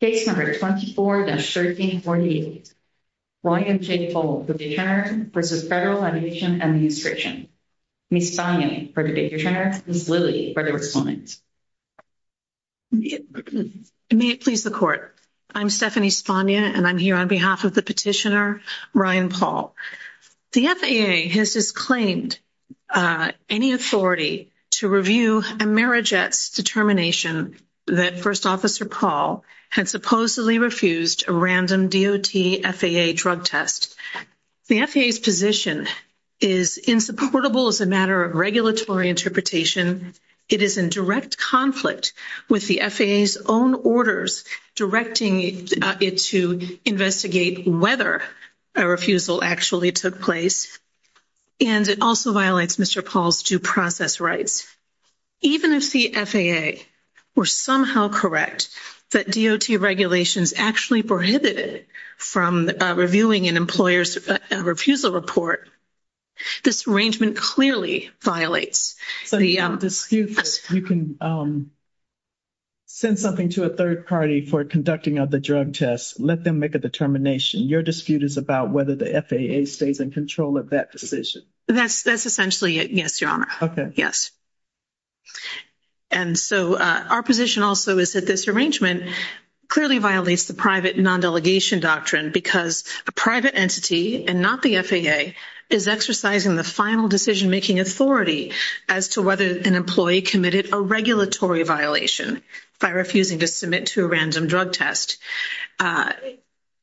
Case number 24-1348, Ryan J. Paul v. Federal Audition and Administration. Ms. Spagna for the deterrence, Ms. Lilly for the response. May it please the court. I'm Stephanie Spagna and I'm here on behalf of the petitioner, Ryan Paul. The FAA has disclaimed any authority to review Emera Jett's determination that First Officer Paul had supposedly refused a random DOT-FAA drug test. The FAA's position is insupportable as a matter of regulatory interpretation. It is in direct conflict with the FAA's own orders directing it to investigate whether a refusal actually took place. And it also violates Mr. Paul's due process rights. Even if the FAA were somehow correct that DOT regulations actually prohibited from reviewing an employer's refusal report, this arrangement clearly violates the — If you can send something to a third party for conducting of the drug test, let them make a determination. Your dispute is about whether the FAA stays in control of that decision. That's essentially it, yes, Your Honor. Yes. And so our position also is that this arrangement clearly violates the private non-delegation doctrine because a private entity and not the FAA is exercising the final decision-making authority as to whether an employee committed a regulatory violation by refusing to submit to a random drug test.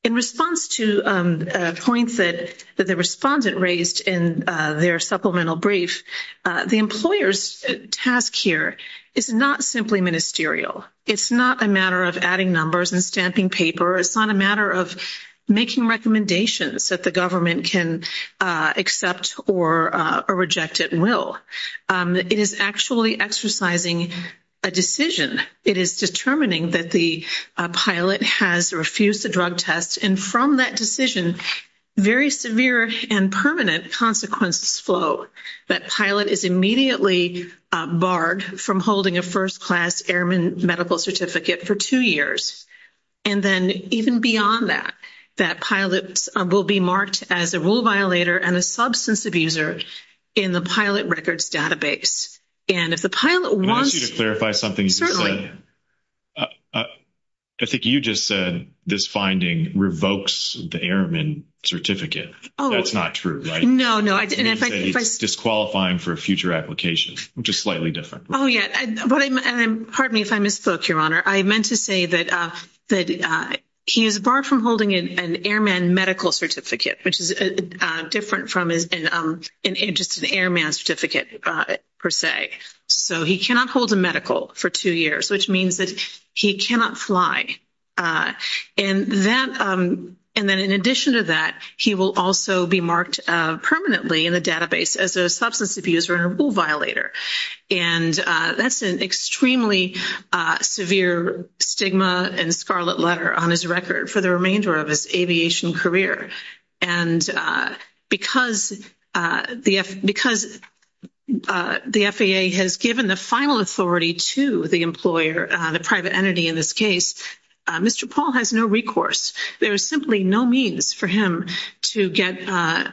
In response to a point that the respondent raised in their supplemental brief, the employer's task here is not simply ministerial. It's not a matter of adding numbers and stamping paper. It's not a matter of making recommendations that the government can accept or reject at will. It is actually exercising a decision. It is determining that the pilot has refused the drug test. And from that decision, very severe and permanent consequences flow. That pilot is immediately barred from holding a first-class airman medical certificate for two years. And then even beyond that, that pilot will be marked as a rule violator and a substance abuser in the pilot records database. And if the pilot wants — Can I ask you to clarify something you just said? Certainly. I think you just said this finding revokes the airman certificate. That's not true, right? No, no, I didn't. It's disqualifying for future applications, which is slightly different. Pardon me if I misspoke, Your Honor. I meant to say that he is barred from holding an airman medical certificate, which is different from just an airman certificate per se. So he cannot hold a medical for two years, which means that he cannot fly. And then in addition to that, he will also be marked permanently in the database as a substance abuser and a rule violator. And that's an extremely severe stigma and scarlet letter on his record for the remainder of his aviation career. And because the FAA has given the final authority to the employer, the private entity in this case, Mr. Paul has no recourse. There is simply no means for him to get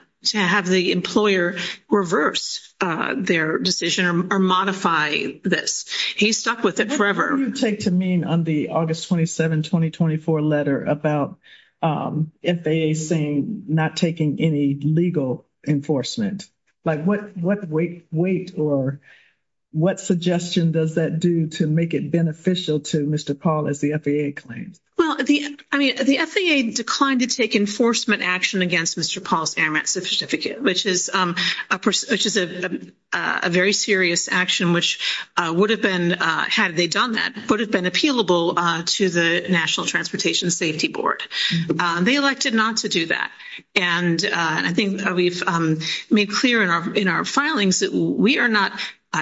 — to have the employer reverse their decision or modify this. He's stuck with it forever. What do you take to mean on the August 27, 2024 letter about FAA saying not taking any legal enforcement? Like what weight or what suggestion does that do to make it beneficial to Mr. Paul as the FAA claims? Well, I mean, the FAA declined to take enforcement action against Mr. Paul's airman certificate, which is a very serious action, which would have been — had they done that, would have been appealable to the National Transportation Safety Board. They elected not to do that. And I think we've made clear in our filings that we are not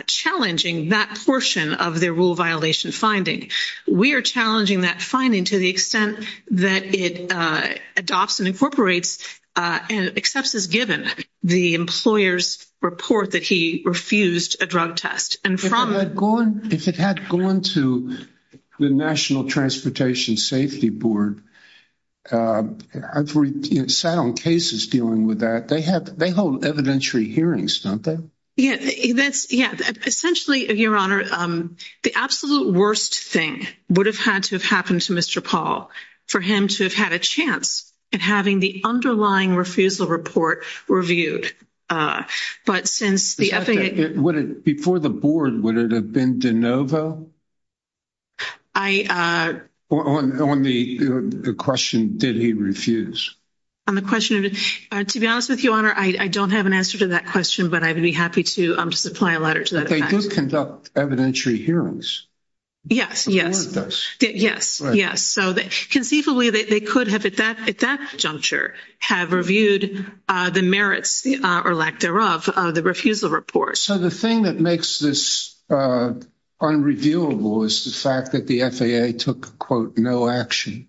challenging that portion of their rule violation finding. We are challenging that finding to the extent that it adopts and incorporates and accepts as given the employer's report that he refused a drug test. And from — If it had gone to the National Transportation Safety Board, I've sat on cases dealing with that. They have — they hold evidentiary hearings, don't they? Yeah. That's — yeah. Essentially, Your Honor, the absolute worst thing would have had to have happened to Mr. Paul for him to have had a chance at having the underlying refusal report reviewed. But since the — Before the board, would it have been de novo? I — On the question, did he refuse? On the question of — to be honest with you, Your Honor, I don't have an answer to that question, but I would be happy to supply a letter to that effect. But they do conduct evidentiary hearings. Yes, yes. The board does. Yes, yes. So conceivably, they could have, at that juncture, have reviewed the merits, or lack thereof, of the refusal report. So the thing that makes this unreviewable is the fact that the FAA took, quote, no action.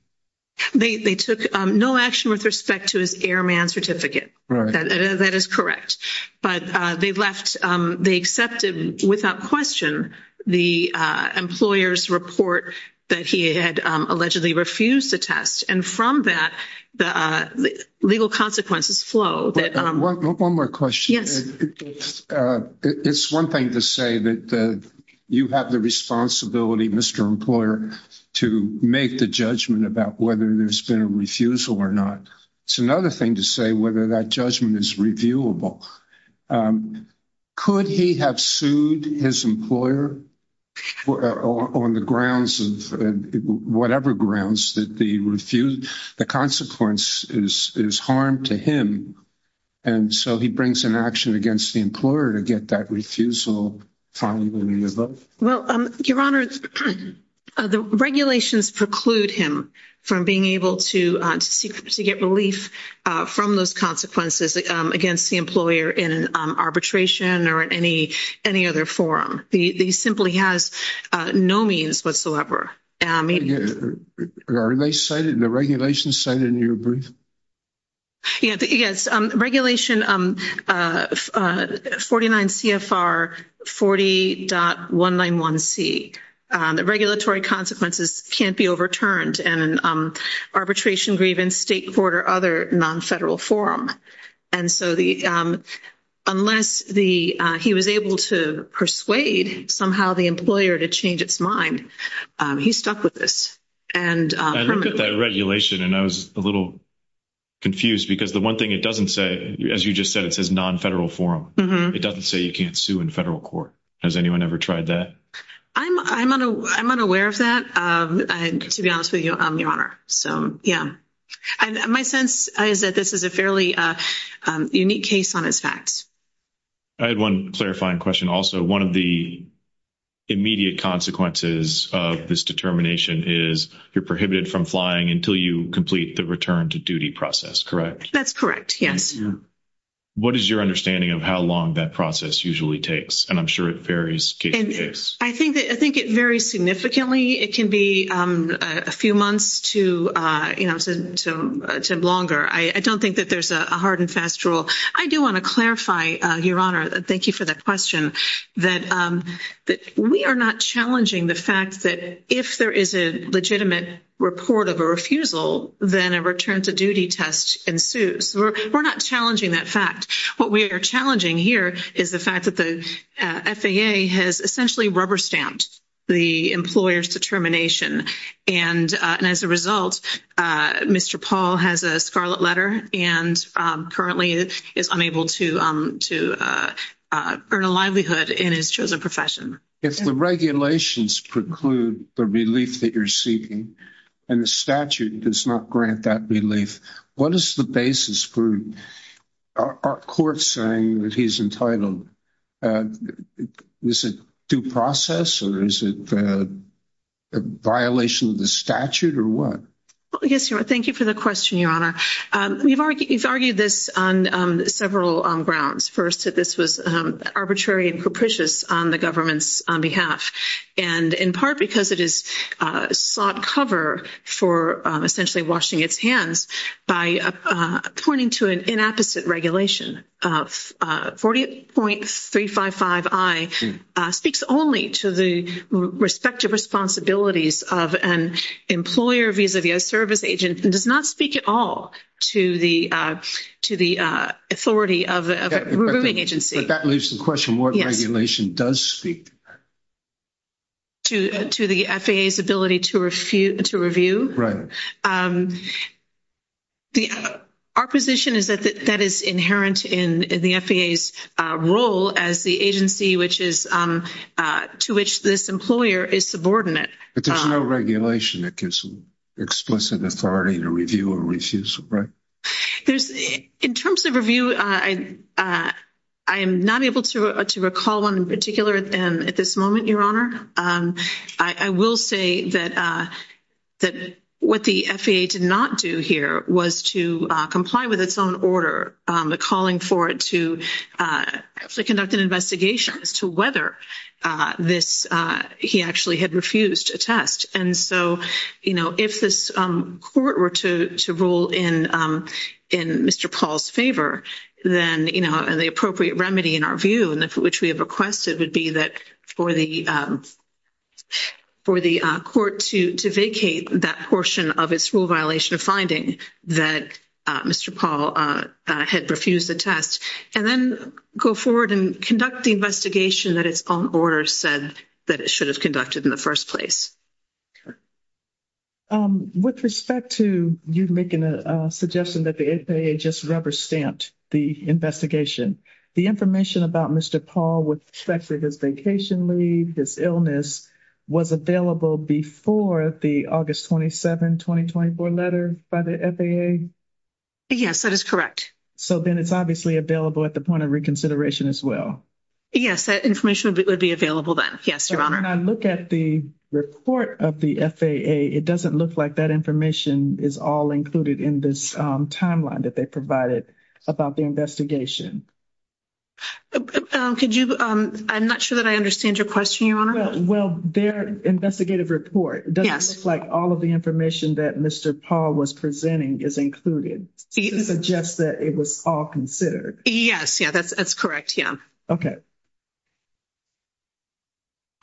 They took no action with respect to his airman certificate. That is correct. But they left — they accepted without question the employer's report that he had allegedly refused to test. And from that, the legal consequences flow that — One more question. Yes. It's one thing to say that you have the responsibility, Mr. Employer, to make the judgment about whether there's been a refusal or not. It's another thing to say whether that judgment is reviewable. Could he have sued his employer on the grounds of — whatever grounds that the — the consequence is harm to him? And so he brings an action against the employer to get that refusal finally revoked? Well, Your Honor, the regulations preclude him from being able to get relief from those consequences against the employer in an arbitration or in any other forum. He simply has no means whatsoever. Are they cited in the regulations cited in your brief? Yes. Regulation 49 CFR 40.191C. The regulatory consequences can't be overturned in an arbitration, grievance, state court, or other non-federal forum. And so the — unless the — he was able to persuade somehow the employer to change its mind, he's stuck with this. I looked at that regulation and I was a little confused because the one thing it doesn't say — as you just said, it says non-federal forum. It doesn't say you can't sue in federal court. Has anyone ever tried that? I'm unaware of that, to be honest with you, Your Honor. So, yeah. My sense is that this is a fairly unique case on its facts. I had one clarifying question also. One of the immediate consequences of this determination is you're prohibited from flying until you complete the return to duty process, correct? That's correct, yes. What is your understanding of how long that process usually takes? And I'm sure it varies case to case. I think it varies significantly. It can be a few months to longer. I don't think that there's a hard and fast rule. I do want to clarify, Your Honor — thank you for that question. We are not challenging the fact that if there is a legitimate report of a refusal, then a return to duty test ensues. We're not challenging that fact. What we are challenging here is the fact that the FAA has essentially rubber-stamped the employer's determination. And as a result, Mr. Paul has a scarlet letter and currently is unable to earn a livelihood in his chosen profession. If the regulations preclude the relief that you're seeking and the statute does not grant that relief, what is the basis for our court saying that he's entitled? Is it due process or is it a violation of the statute or what? Yes, Your Honor. Thank you for the question, Your Honor. We've argued this on several grounds. First, that this was arbitrary and capricious on the government's behalf, and in part because it has sought cover for essentially washing its hands by pointing to an inapposite regulation. 40.355i speaks only to the respective responsibilities of an employer vis-a-vis a service agent and does not speak at all to the authority of a removing agency. But that leaves the question, what regulation does speak to that? To the FAA's ability to review? Right. Our position is that that is inherent in the FAA's role as the agency to which this employer is subordinate. But there's no regulation that gives explicit authority to review a refusal, right? In terms of review, I am not able to recall one in particular at this moment, Your Honor. I will say that what the FAA did not do here was to comply with its own order, a calling for it to conduct an investigation as to whether he actually had refused a test. And so, you know, if this court were to rule in Mr. Paul's favor, then, you know, the appropriate remedy in our view and which we have requested would be that for the court to vacate that portion of its rule violation finding that Mr. Paul had refused the test and then go forward and conduct the investigation that its own order said that it should have conducted in the first place. With respect to you making a suggestion that the FAA just rubber-stamped the investigation, the information about Mr. Paul with respect to his vacation leave, his illness, was available before the August 27, 2024 letter by the FAA? Yes, that is correct. So then it's obviously available at the point of reconsideration as well. Yes, that information would be available then. Yes, Your Honor. When I look at the report of the FAA, it doesn't look like that information is all included in this timeline that they provided about the investigation. I'm not sure that I understand your question, Your Honor. Well, their investigative report doesn't look like all of the information that Mr. Paul was presenting is included. It suggests that it was all considered. Yes, that's correct, yeah.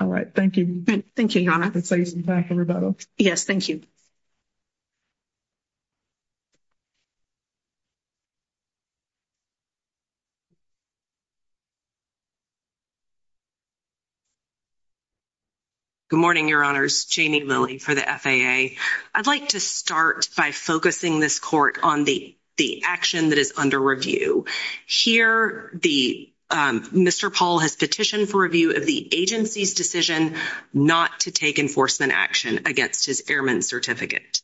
All right, thank you. Thank you, Your Honor. I can save some time for rebuttal. Yes, thank you. Good morning, Your Honors. Jamie Lilly for the FAA. I'd like to start by focusing this court on the action that is under review. Here, Mr. Paul has petitioned for review of the agency's decision not to take enforcement action against his airman certificate.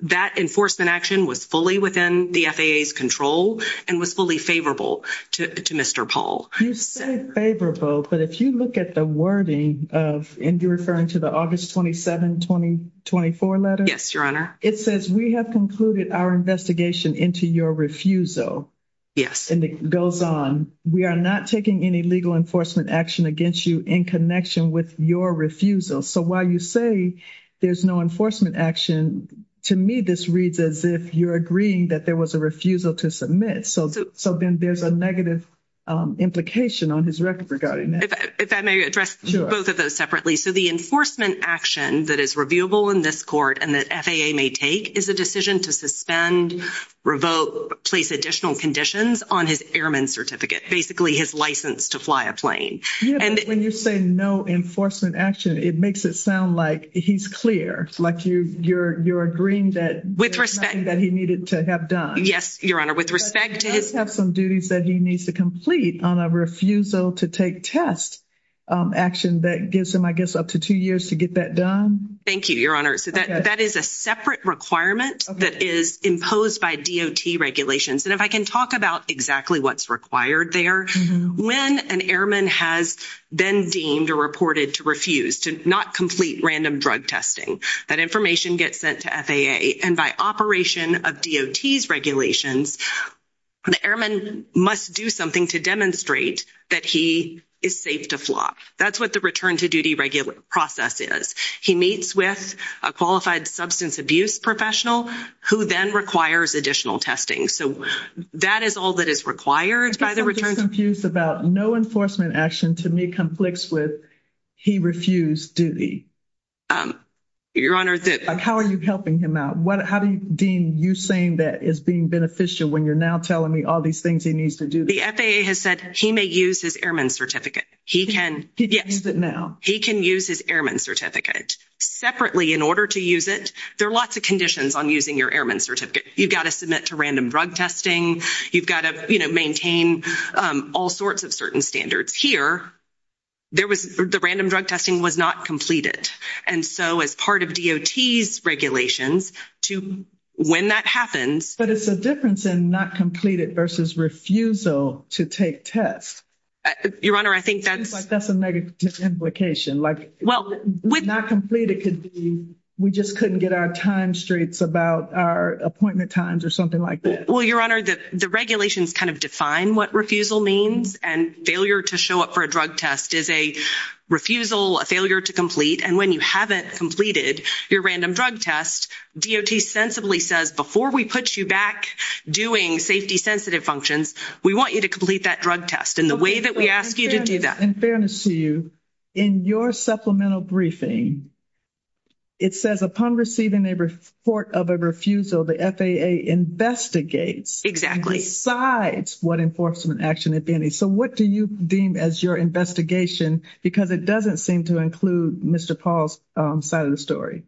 That enforcement action was fully within the FAA's control and was fully favorable to Mr. Paul. You say favorable, but if you look at the wording of, and you're referring to the August 27, 2024 letter? Yes, Your Honor. It says, we have concluded our investigation into your refusal. Yes. And it goes on, we are not taking any legal enforcement action against you in connection with your refusal. So while you say there's no enforcement action, to me this reads as if you're agreeing that there was a refusal to submit. So then there's a negative implication on his record regarding that. If I may address both of those separately. So the enforcement action that is reviewable in this court and that FAA may take is a decision to suspend, revoke, place additional conditions on his airman certificate, basically his license to fly a plane. When you say no enforcement action, it makes it sound like he's clear, like you're agreeing that there's nothing that he needed to have done. Yes, Your Honor. But he does have some duties that he needs to complete on a refusal to take test action that gives him, I guess, up to two years to get that done. Thank you, Your Honor. So that is a separate requirement that is imposed by DOT regulations. And if I can talk about exactly what's required there. When an airman has been deemed or reported to refuse to not complete random drug testing, that information gets sent to FAA. And by operation of DOT's regulations, the airman must do something to demonstrate that he is safe to fly. That's what the return to duty regular process is. He meets with a qualified substance abuse professional who then requires additional testing. So that is all that is required by the return. I'm just confused about no enforcement action to me conflicts with he refused duty. Your Honor. How are you helping him out? How do you deem you saying that is being beneficial when you're now telling me all these things he needs to do? The FAA has said he may use his airman certificate. He can. He can use it now. He can use his airman certificate. Separately, in order to use it, there are lots of conditions on using your airman certificate. You've got to submit to random drug testing. You've got to maintain all sorts of certain standards. Here, the random drug testing was not completed. And so as part of DOT's regulations, when that happens — But it's a difference in not completed versus refusal to take tests. Your Honor, I think that's — It seems like that's a negative implication. Not complete, it could be we just couldn't get our time straights about our appointment times or something like that. Well, Your Honor, the regulations kind of define what refusal means. And failure to show up for a drug test is a refusal, a failure to complete. And when you haven't completed your random drug test, DOT sensibly says, before we put you back doing safety-sensitive functions, we want you to complete that drug test. And the way that we ask you to do that — Your Honor, in fairness to you, in your supplemental briefing, it says, upon receiving a report of a refusal, the FAA investigates — Exactly. — decides what enforcement action it may need. So what do you deem as your investigation? Because it doesn't seem to include Mr. Paul's side of the story.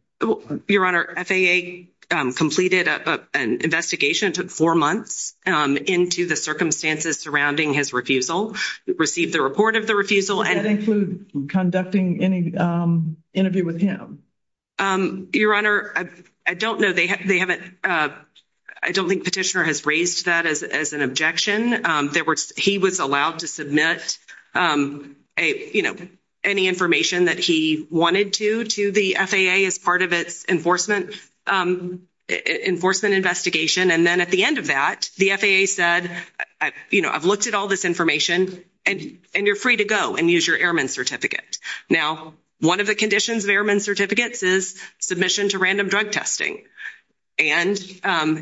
Your Honor, FAA completed an investigation. It took four months into the circumstances surrounding his refusal. It received the report of the refusal. Did that include conducting any interview with him? Your Honor, I don't know. I don't think Petitioner has raised that as an objection. He was allowed to submit any information that he wanted to to the FAA as part of its enforcement investigation. And then at the end of that, the FAA said, you know, I've looked at all this information, and you're free to go and use your Airman Certificate. Now, one of the conditions of Airman Certificates is submission to random drug testing. And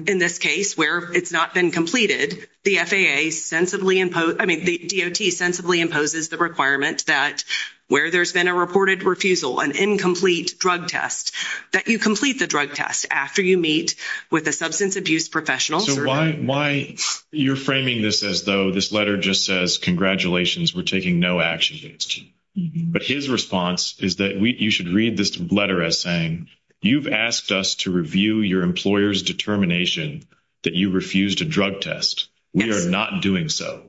in this case, where it's not been completed, the FAA sensibly — I mean, the DOT sensibly imposes the requirement that where there's been a reported refusal, an incomplete drug test, that you complete the drug test after you meet with a substance abuse professional. So why you're framing this as though this letter just says, congratulations, we're taking no action against you. But his response is that you should read this letter as saying, you've asked us to review your employer's determination that you refused a drug test. We are not doing so.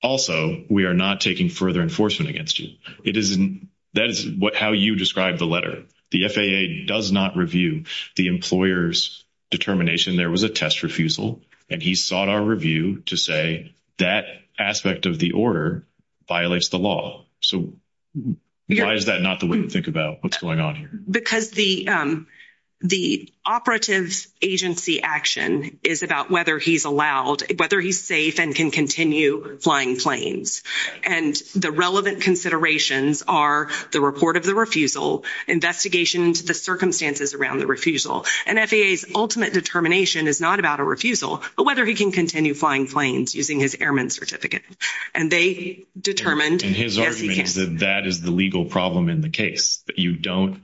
Also, we are not taking further enforcement against you. That is how you describe the letter. The FAA does not review the employer's determination there was a test refusal. And he sought our review to say that aspect of the order violates the law. So why is that not the way to think about what's going on here? Because the operative agency action is about whether he's allowed — whether he's safe and can continue flying planes. And the relevant considerations are the report of the refusal, investigation into the circumstances around the refusal. And FAA's ultimate determination is not about a refusal, but whether he can continue flying planes using his airman certificate. And they determined — And his argument is that that is the legal problem in the case, that you don't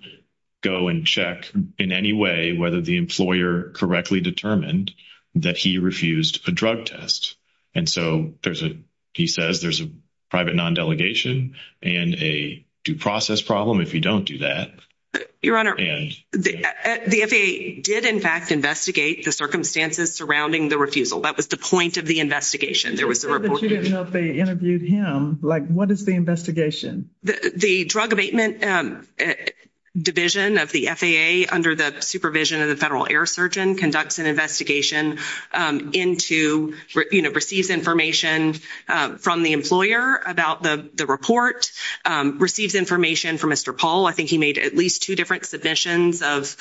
go and check in any way whether the employer correctly determined that he refused a drug test. And so there's a — he says there's a private non-delegation and a due process problem if you don't do that. Your Honor, the FAA did, in fact, investigate the circumstances surrounding the refusal. That was the point of the investigation. There was a report — I said that you didn't know if they interviewed him. Like, what is the investigation? The drug abatement division of the FAA under the supervision of the federal air surgeon conducts an investigation into — you know, receives information from the employer about the report, receives information from Mr. Paul. I think he made at least two different submissions of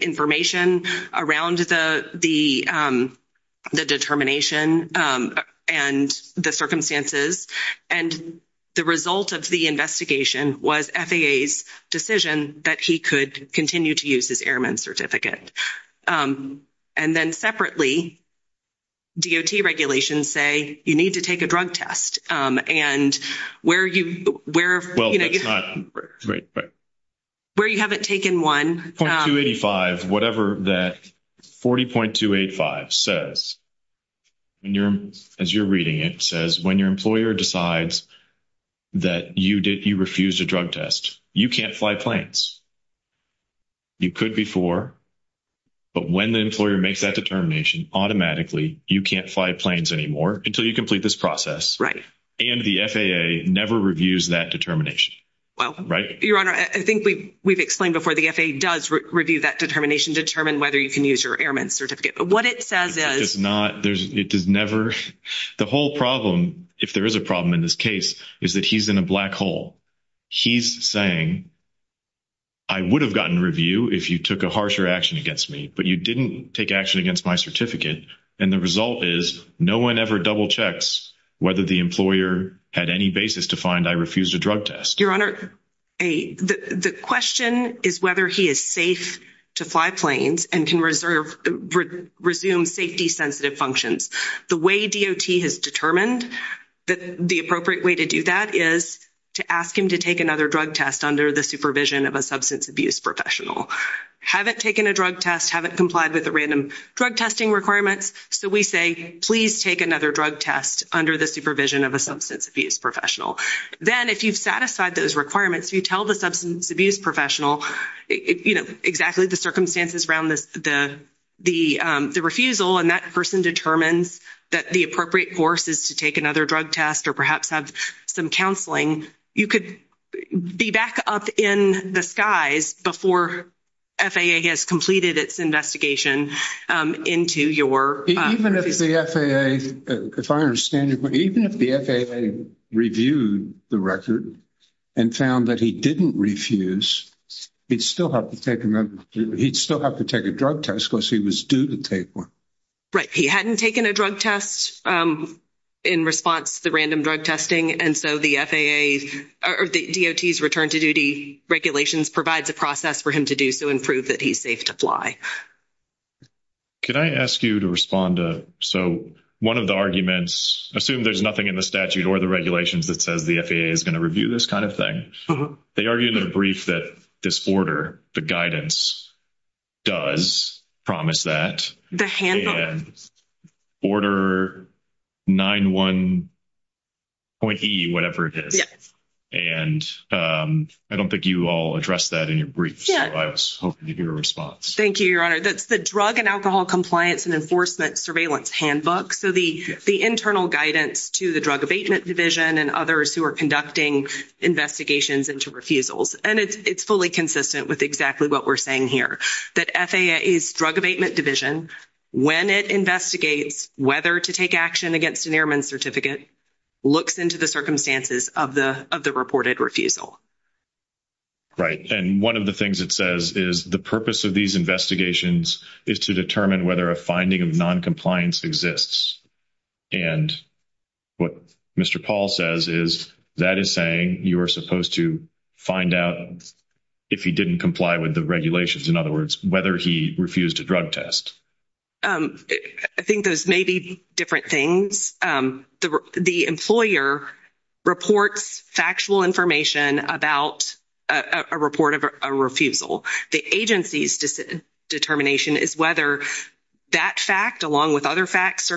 information around the determination and the circumstances. And the result of the investigation was FAA's decision that he could continue to use his airman certificate. And then separately, DOT regulations say you need to take a drug test. And where you — Well, that's not — Where you haven't taken one — 40.285 says, as you're reading it, says when your employer decides that you refused a drug test, you can't fly planes. You could before. But when the employer makes that determination, automatically you can't fly planes anymore until you complete this process. Right. And the FAA never reviews that determination. Well — Right? Your Honor, I think we've explained before. The FAA does review that determination to determine whether you can use your airman certificate. But what it says is — It does not — it does never — the whole problem, if there is a problem in this case, is that he's in a black hole. He's saying, I would have gotten review if you took a harsher action against me, but you didn't take action against my certificate. And the result is no one ever double-checks whether the employer had any basis to find I refused a drug test. Your Honor, the question is whether he is safe to fly planes and can resume safety-sensitive functions. The way DOT has determined that the appropriate way to do that is to ask him to take another drug test under the supervision of a substance abuse professional. Haven't taken a drug test, haven't complied with the random drug testing requirements. So we say, please take another drug test under the supervision of a substance abuse professional. Then, if you've satisfied those requirements, you tell the substance abuse professional exactly the circumstances around the refusal, and that person determines that the appropriate course is to take another drug test or perhaps have some counseling, you could be back up in the skies before FAA has completed its investigation into your — Even if the FAA reviewed the record and found that he didn't refuse, he'd still have to take a drug test because he was due to take one. Right. He hadn't taken a drug test in response to the random drug testing, and so the FAA or the DOT's return-to-duty regulations provides a process for him to do so and prove that he's safe to fly. Could I ask you to respond to — so one of the arguments, assume there's nothing in the statute or the regulations that says the FAA is going to review this kind of thing. They argue in their brief that this order, the guidance, does promise that. The handle. And Order 91.E, whatever it is. Yes. And I don't think you all addressed that in your brief, so I was hoping to hear a response. Thank you, Your Honor. That's the Drug and Alcohol Compliance and Enforcement Surveillance Handbook, so the internal guidance to the Drug Abatement Division and others who are conducting investigations into refusals. And it's fully consistent with exactly what we're saying here, that FAA's Drug Abatement Division, when it investigates whether to take action against an airman certificate, looks into the circumstances of the reported refusal. Right. And one of the things it says is the purpose of these investigations is to determine whether a finding of noncompliance exists. And what Mr. Paul says is that is saying you are supposed to find out if he didn't comply with the regulations, in other words, whether he refused a drug test. I think those may be different things. The employer reports factual information about a report of a refusal. The agency's determination is whether that fact, along with other facts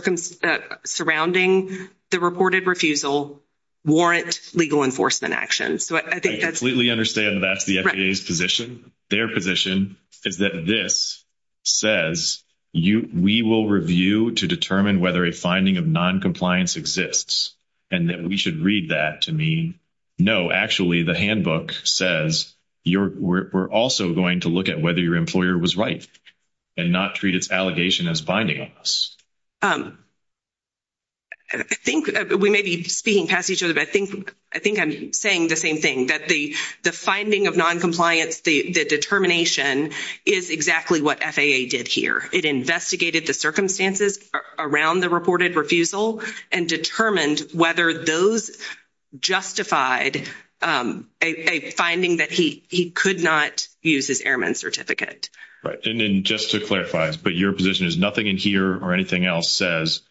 surrounding the reported refusal, warrant legal enforcement action. I completely understand that that's the FAA's position. Their position is that this says we will review to determine whether a finding of noncompliance exists, and that we should read that to mean, no, actually, the handbook says we're also going to look at whether your employer was right and not treat its allegation as binding on us. I think we may be speaking past each other, but I think I'm saying the same thing, that the finding of noncompliance, the determination, is exactly what FAA did here. It investigated the circumstances around the reported refusal and determined whether those justified a finding that he could not use his airman certificate. Right. And just to clarify, but your position is nothing in here or anything else says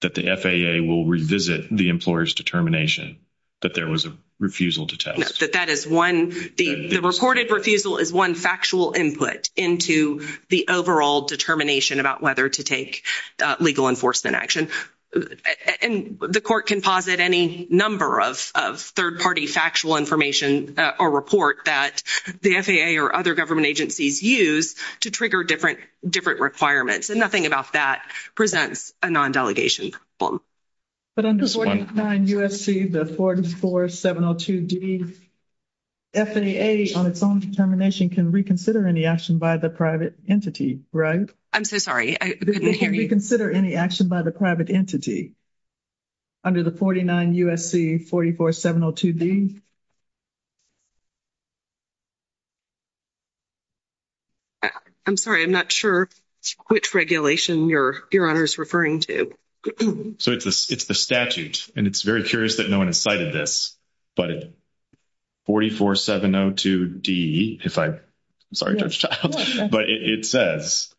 that the FAA will revisit the employer's determination that there was a refusal to test? No, that that is one. The reported refusal is one factual input into the overall determination about whether to take legal enforcement action. And the court can posit any number of third-party factual information or report that the FAA or other government agencies use to trigger different requirements, and nothing about that presents a non-delegation problem. But under 49 U.S.C. 44702D, FAA on its own determination can reconsider any action by the private entity, right? I'm so sorry, I couldn't hear you. Reconsider any action by the private entity under the 49 U.S.C. 44702D? I'm sorry, I'm not sure which regulation Your Honor is referring to. So it's the statute, and it's very curious that no one has cited this. But 44702D, if I'm sorry, Judge Child, but it says,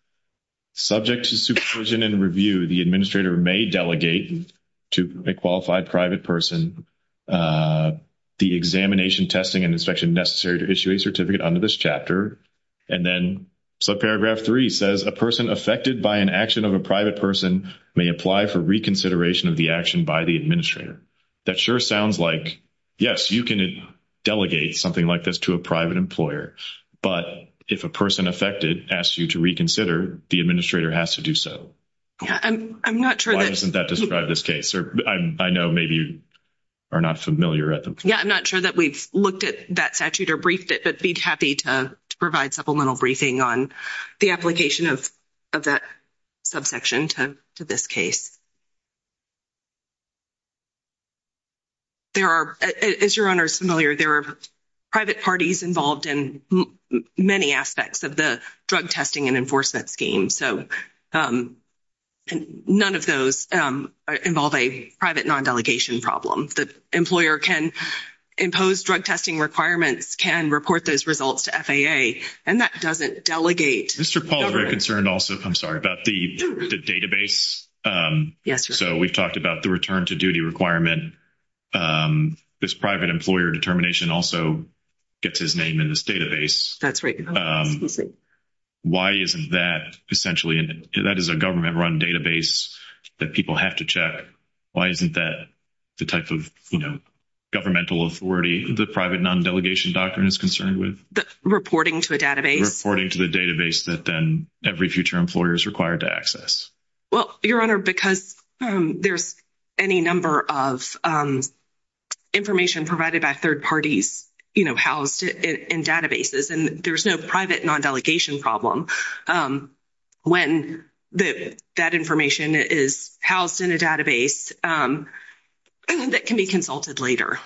subject to supervision and review, the administrator may delegate to a qualified private person the examination, testing, and inspection necessary to issue a certificate under this chapter. And then subparagraph 3 says, a person affected by an action of a private person may apply for reconsideration of the action by the administrator. That sure sounds like, yes, you can delegate something like this to a private employer, but if a person affected asks you to reconsider, the administrator has to do so. Why doesn't that describe this case? I know maybe you are not familiar at this point. Yeah, I'm not sure that we've looked at that statute or briefed it, but I'd be happy to provide supplemental briefing on the application of that subsection to this case. As Your Honor is familiar, there are private parties involved in many aspects of the drug testing and enforcement scheme. So none of those involve a private non-delegation problem. The employer can impose drug testing requirements, can report those results to FAA, and that doesn't delegate. Mr. Paul is very concerned also, I'm sorry, about the database. Yes, Your Honor. So we've talked about the return to duty requirement. This private employer determination also gets his name in this database. That's right. Why isn't that essentially, that is a government-run database that people have to check. Why isn't that the type of governmental authority the private non-delegation doctrine is concerned with? Reporting to a database. Reporting to the database that then every future employer is required to access. Well, Your Honor, because there's any number of information provided by third parties housed in databases, and there's no private non-delegation problem when that information is housed in a database that can be consulted later.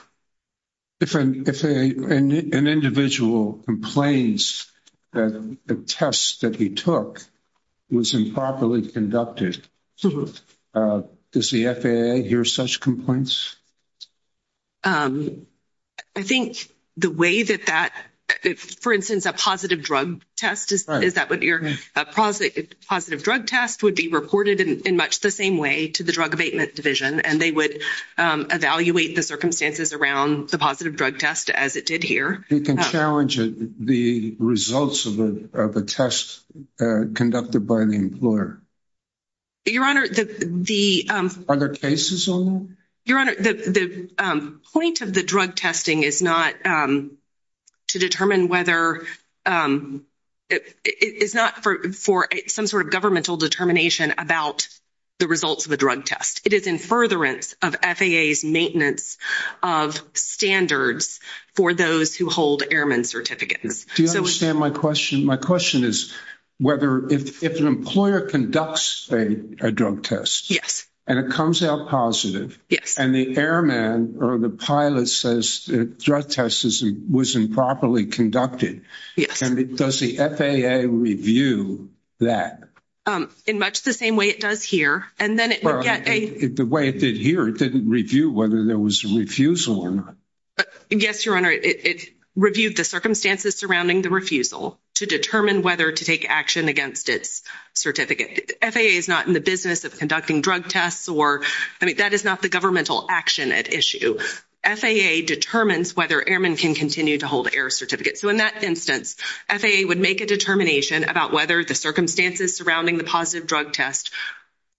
If an individual complains that the test that he took was improperly conducted, does the FAA hear such complaints? I think the way that that, for instance, a positive drug test would be reported in much the same way to the drug abatement division, and they would evaluate the circumstances around the positive drug test as it did here. You can challenge the results of a test conducted by the employer. Your Honor, the… Are there cases on that? Your Honor, the point of the drug testing is not to determine whether… It's not for some sort of governmental determination about the results of a drug test. It is in furtherance of FAA's maintenance of standards for those who hold airman certificates. Do you understand my question? My question is whether if an employer conducts a drug test… …and it comes out positive… Yes. …and the airman or the pilot says the drug test was improperly conducted… Yes. …does the FAA review that? In much the same way it does here, and then it would get a… Well, the way it did here, it didn't review whether there was a refusal or not. Yes, Your Honor, it reviewed the circumstances surrounding the refusal to determine whether to take action against its certificate. FAA is not in the business of conducting drug tests or… I mean, that is not the governmental action at issue. FAA determines whether airmen can continue to hold air certificates. So in that instance, FAA would make a determination about whether the circumstances surrounding the positive drug test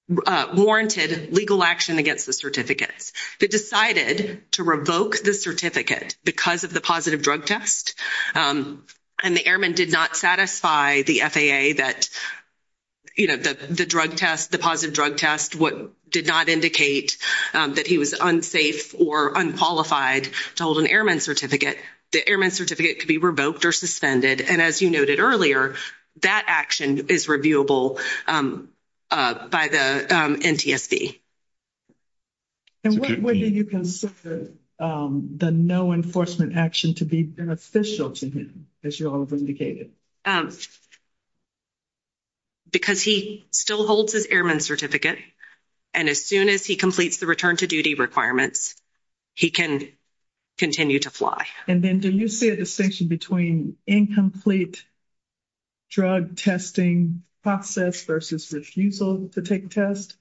warranted legal action against the certificates. If it decided to revoke the certificate because of the positive drug test and the airman did not satisfy the FAA that, you know, the drug test, the positive drug test did not indicate that he was unsafe or unqualified to hold an airman certificate, the airman certificate could be revoked or suspended. And as you noted earlier, that action is reviewable by the NTSB. And what do you consider the no enforcement action to be beneficial to him, as you all have indicated? Because he still holds his airman certificate. And as soon as he completes the return to duty requirements, he can continue to fly. And then do you see a distinction between incomplete drug testing process versus refusal to take test?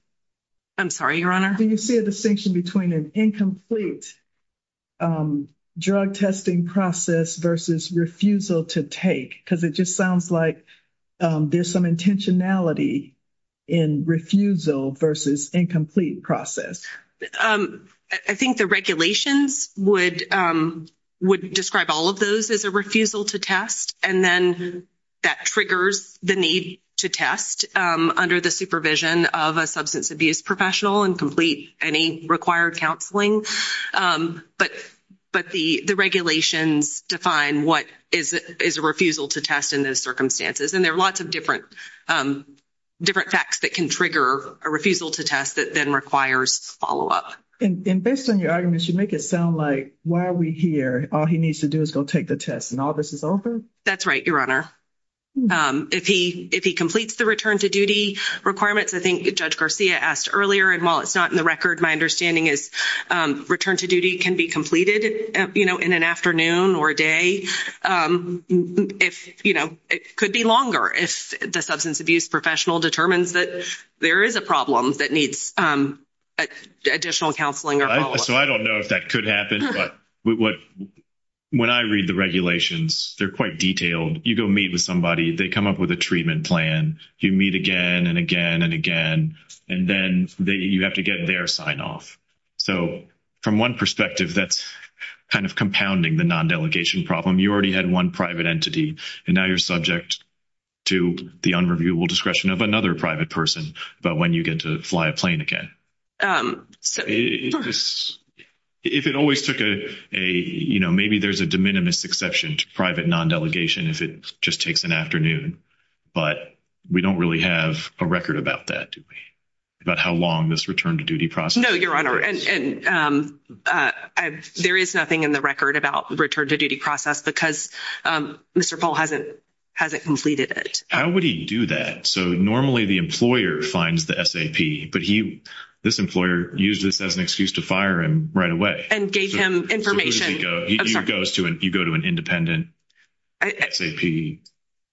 I'm sorry, Your Honor. Do you see a distinction between an incomplete drug testing process versus refusal to take? Because it just sounds like there's some intentionality in refusal versus incomplete process. I think the regulations would describe all of those as a refusal to test. And then that triggers the need to test under the supervision of a substance abuse professional and complete any required counseling. But the regulations define what is a refusal to test in those circumstances. And there are lots of different facts that can trigger a refusal to test that then requires follow-up. And based on your arguments, you make it sound like while we're here, all he needs to do is go take the test and all this is over? That's right, Your Honor. If he completes the return to duty requirements, I think Judge Garcia asked earlier, and while it's not in the record, my understanding is return to duty can be completed in an afternoon or a day. It could be longer if the substance abuse professional determines that there is a problem that needs additional counseling or follow-up. So I don't know if that could happen, but when I read the regulations, they're quite detailed. You go meet with somebody. They come up with a treatment plan. You meet again and again and again, and then you have to get their sign-off. So from one perspective, that's kind of compounding the non-delegation problem. You already had one private entity, and now you're subject to the unreviewable discretion of another private person about when you get to fly a plane again. If it always took a, you know, maybe there's a de minimis exception to private non-delegation if it just takes an afternoon, but we don't really have a record about that, do we, about how long this return to duty process is? No, Your Honor, and there is nothing in the record about return to duty process because Mr. Pohl hasn't completed it. How would he do that? So normally the employer finds the SAP, but this employer used this as an excuse to fire him right away. And gave him information. You go to an independent SAP.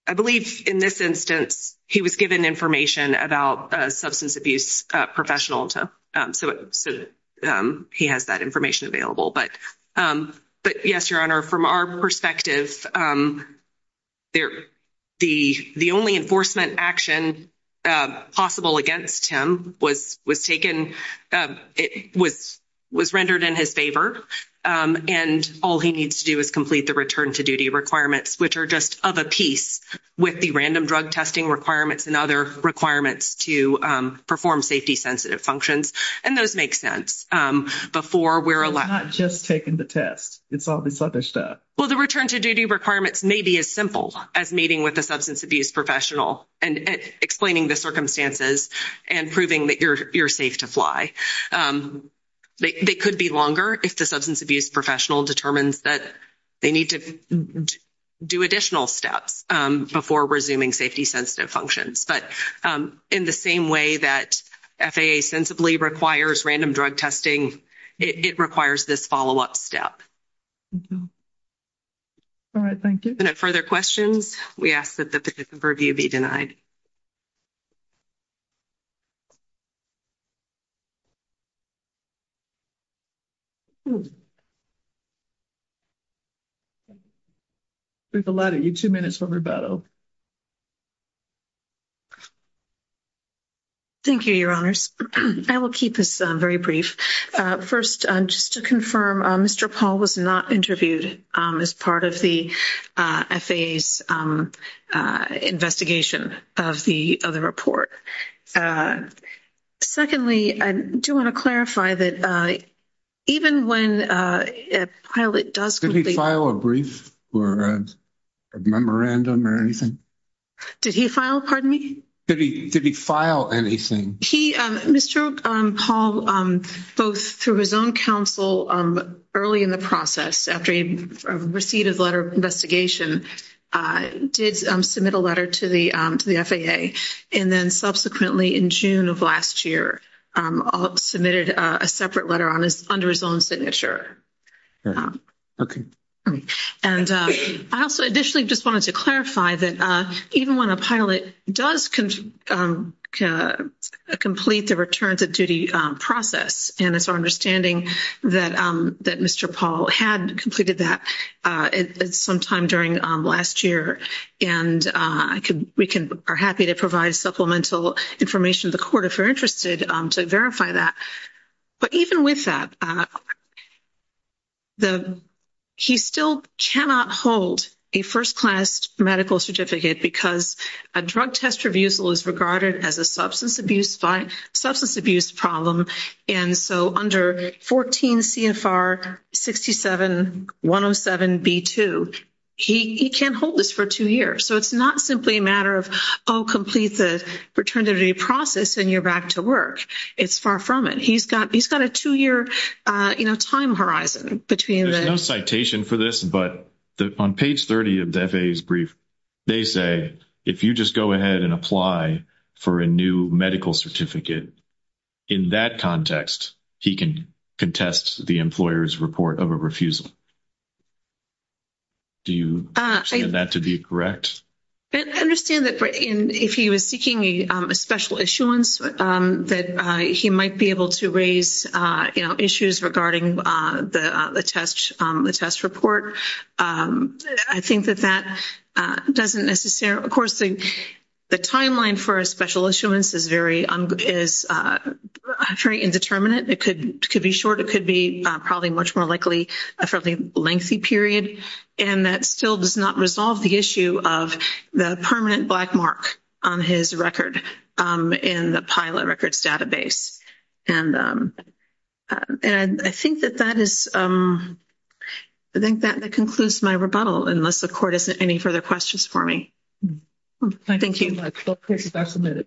I believe in this instance he was given information about a substance abuse professional, so he has that information available. But yes, Your Honor, from our perspective, the only enforcement action possible against him was rendered in his favor, and all he needs to do is complete the return to duty requirements, which are just of a piece with the random drug testing requirements and other requirements to perform safety-sensitive functions. And those make sense. It's not just taking the test. It's all this other stuff. Well, the return to duty requirements may be as simple as meeting with a substance abuse professional and explaining the circumstances and proving that you're safe to fly. They could be longer if the substance abuse professional determines that they need to do additional steps before resuming safety-sensitive functions. But in the same way that FAA sensibly requires random drug testing, it requires this follow-up step. All right. Thank you. If there are no further questions, we ask that the pick-up review be denied. We've allotted you two minutes for rebuttal. Thank you, Your Honors. I will keep this very brief. First, just to confirm, Mr. Paul was not interviewed as part of the FAA's investigation of the report. Secondly, I do want to clarify that even when a pilot does complete the report… Did he file a brief or a memorandum or anything? Did he file, pardon me? Did he file anything? Mr. Paul, both through his own counsel early in the process, after he received a letter of investigation, did submit a letter to the FAA, and then subsequently in June of last year submitted a separate letter under his own signature. Okay. And I also additionally just wanted to clarify that even when a pilot does complete the return-to-duty process, and it's our understanding that Mr. Paul had completed that sometime during last year, and we are happy to provide supplemental information to the court if you're interested to verify that. But even with that, he still cannot hold a first-class medical certificate because a drug test revisal is regarded as a substance abuse problem. And so under 14 CFR 67107B2, he can't hold this for two years. So it's not simply a matter of, oh, complete the return-to-duty process and you're back to work. It's far from it. He's got a two-year time horizon between the — There's no citation for this, but on page 30 of the FAA's brief, they say if you just go ahead and apply for a new medical certificate, in that context he can contest the employer's report of a refusal. Do you understand that to be correct? I understand that if he was seeking a special issuance, that he might be able to raise issues regarding the test report. I think that that doesn't necessarily — of course, the timeline for a special issuance is very indeterminate. It could be short. It could be probably much more likely a fairly lengthy period, and that still does not resolve the issue of the permanent black mark on his record in the pilot records database. And I think that that is — I think that concludes my rebuttal, unless the Court has any further questions for me. Thank you.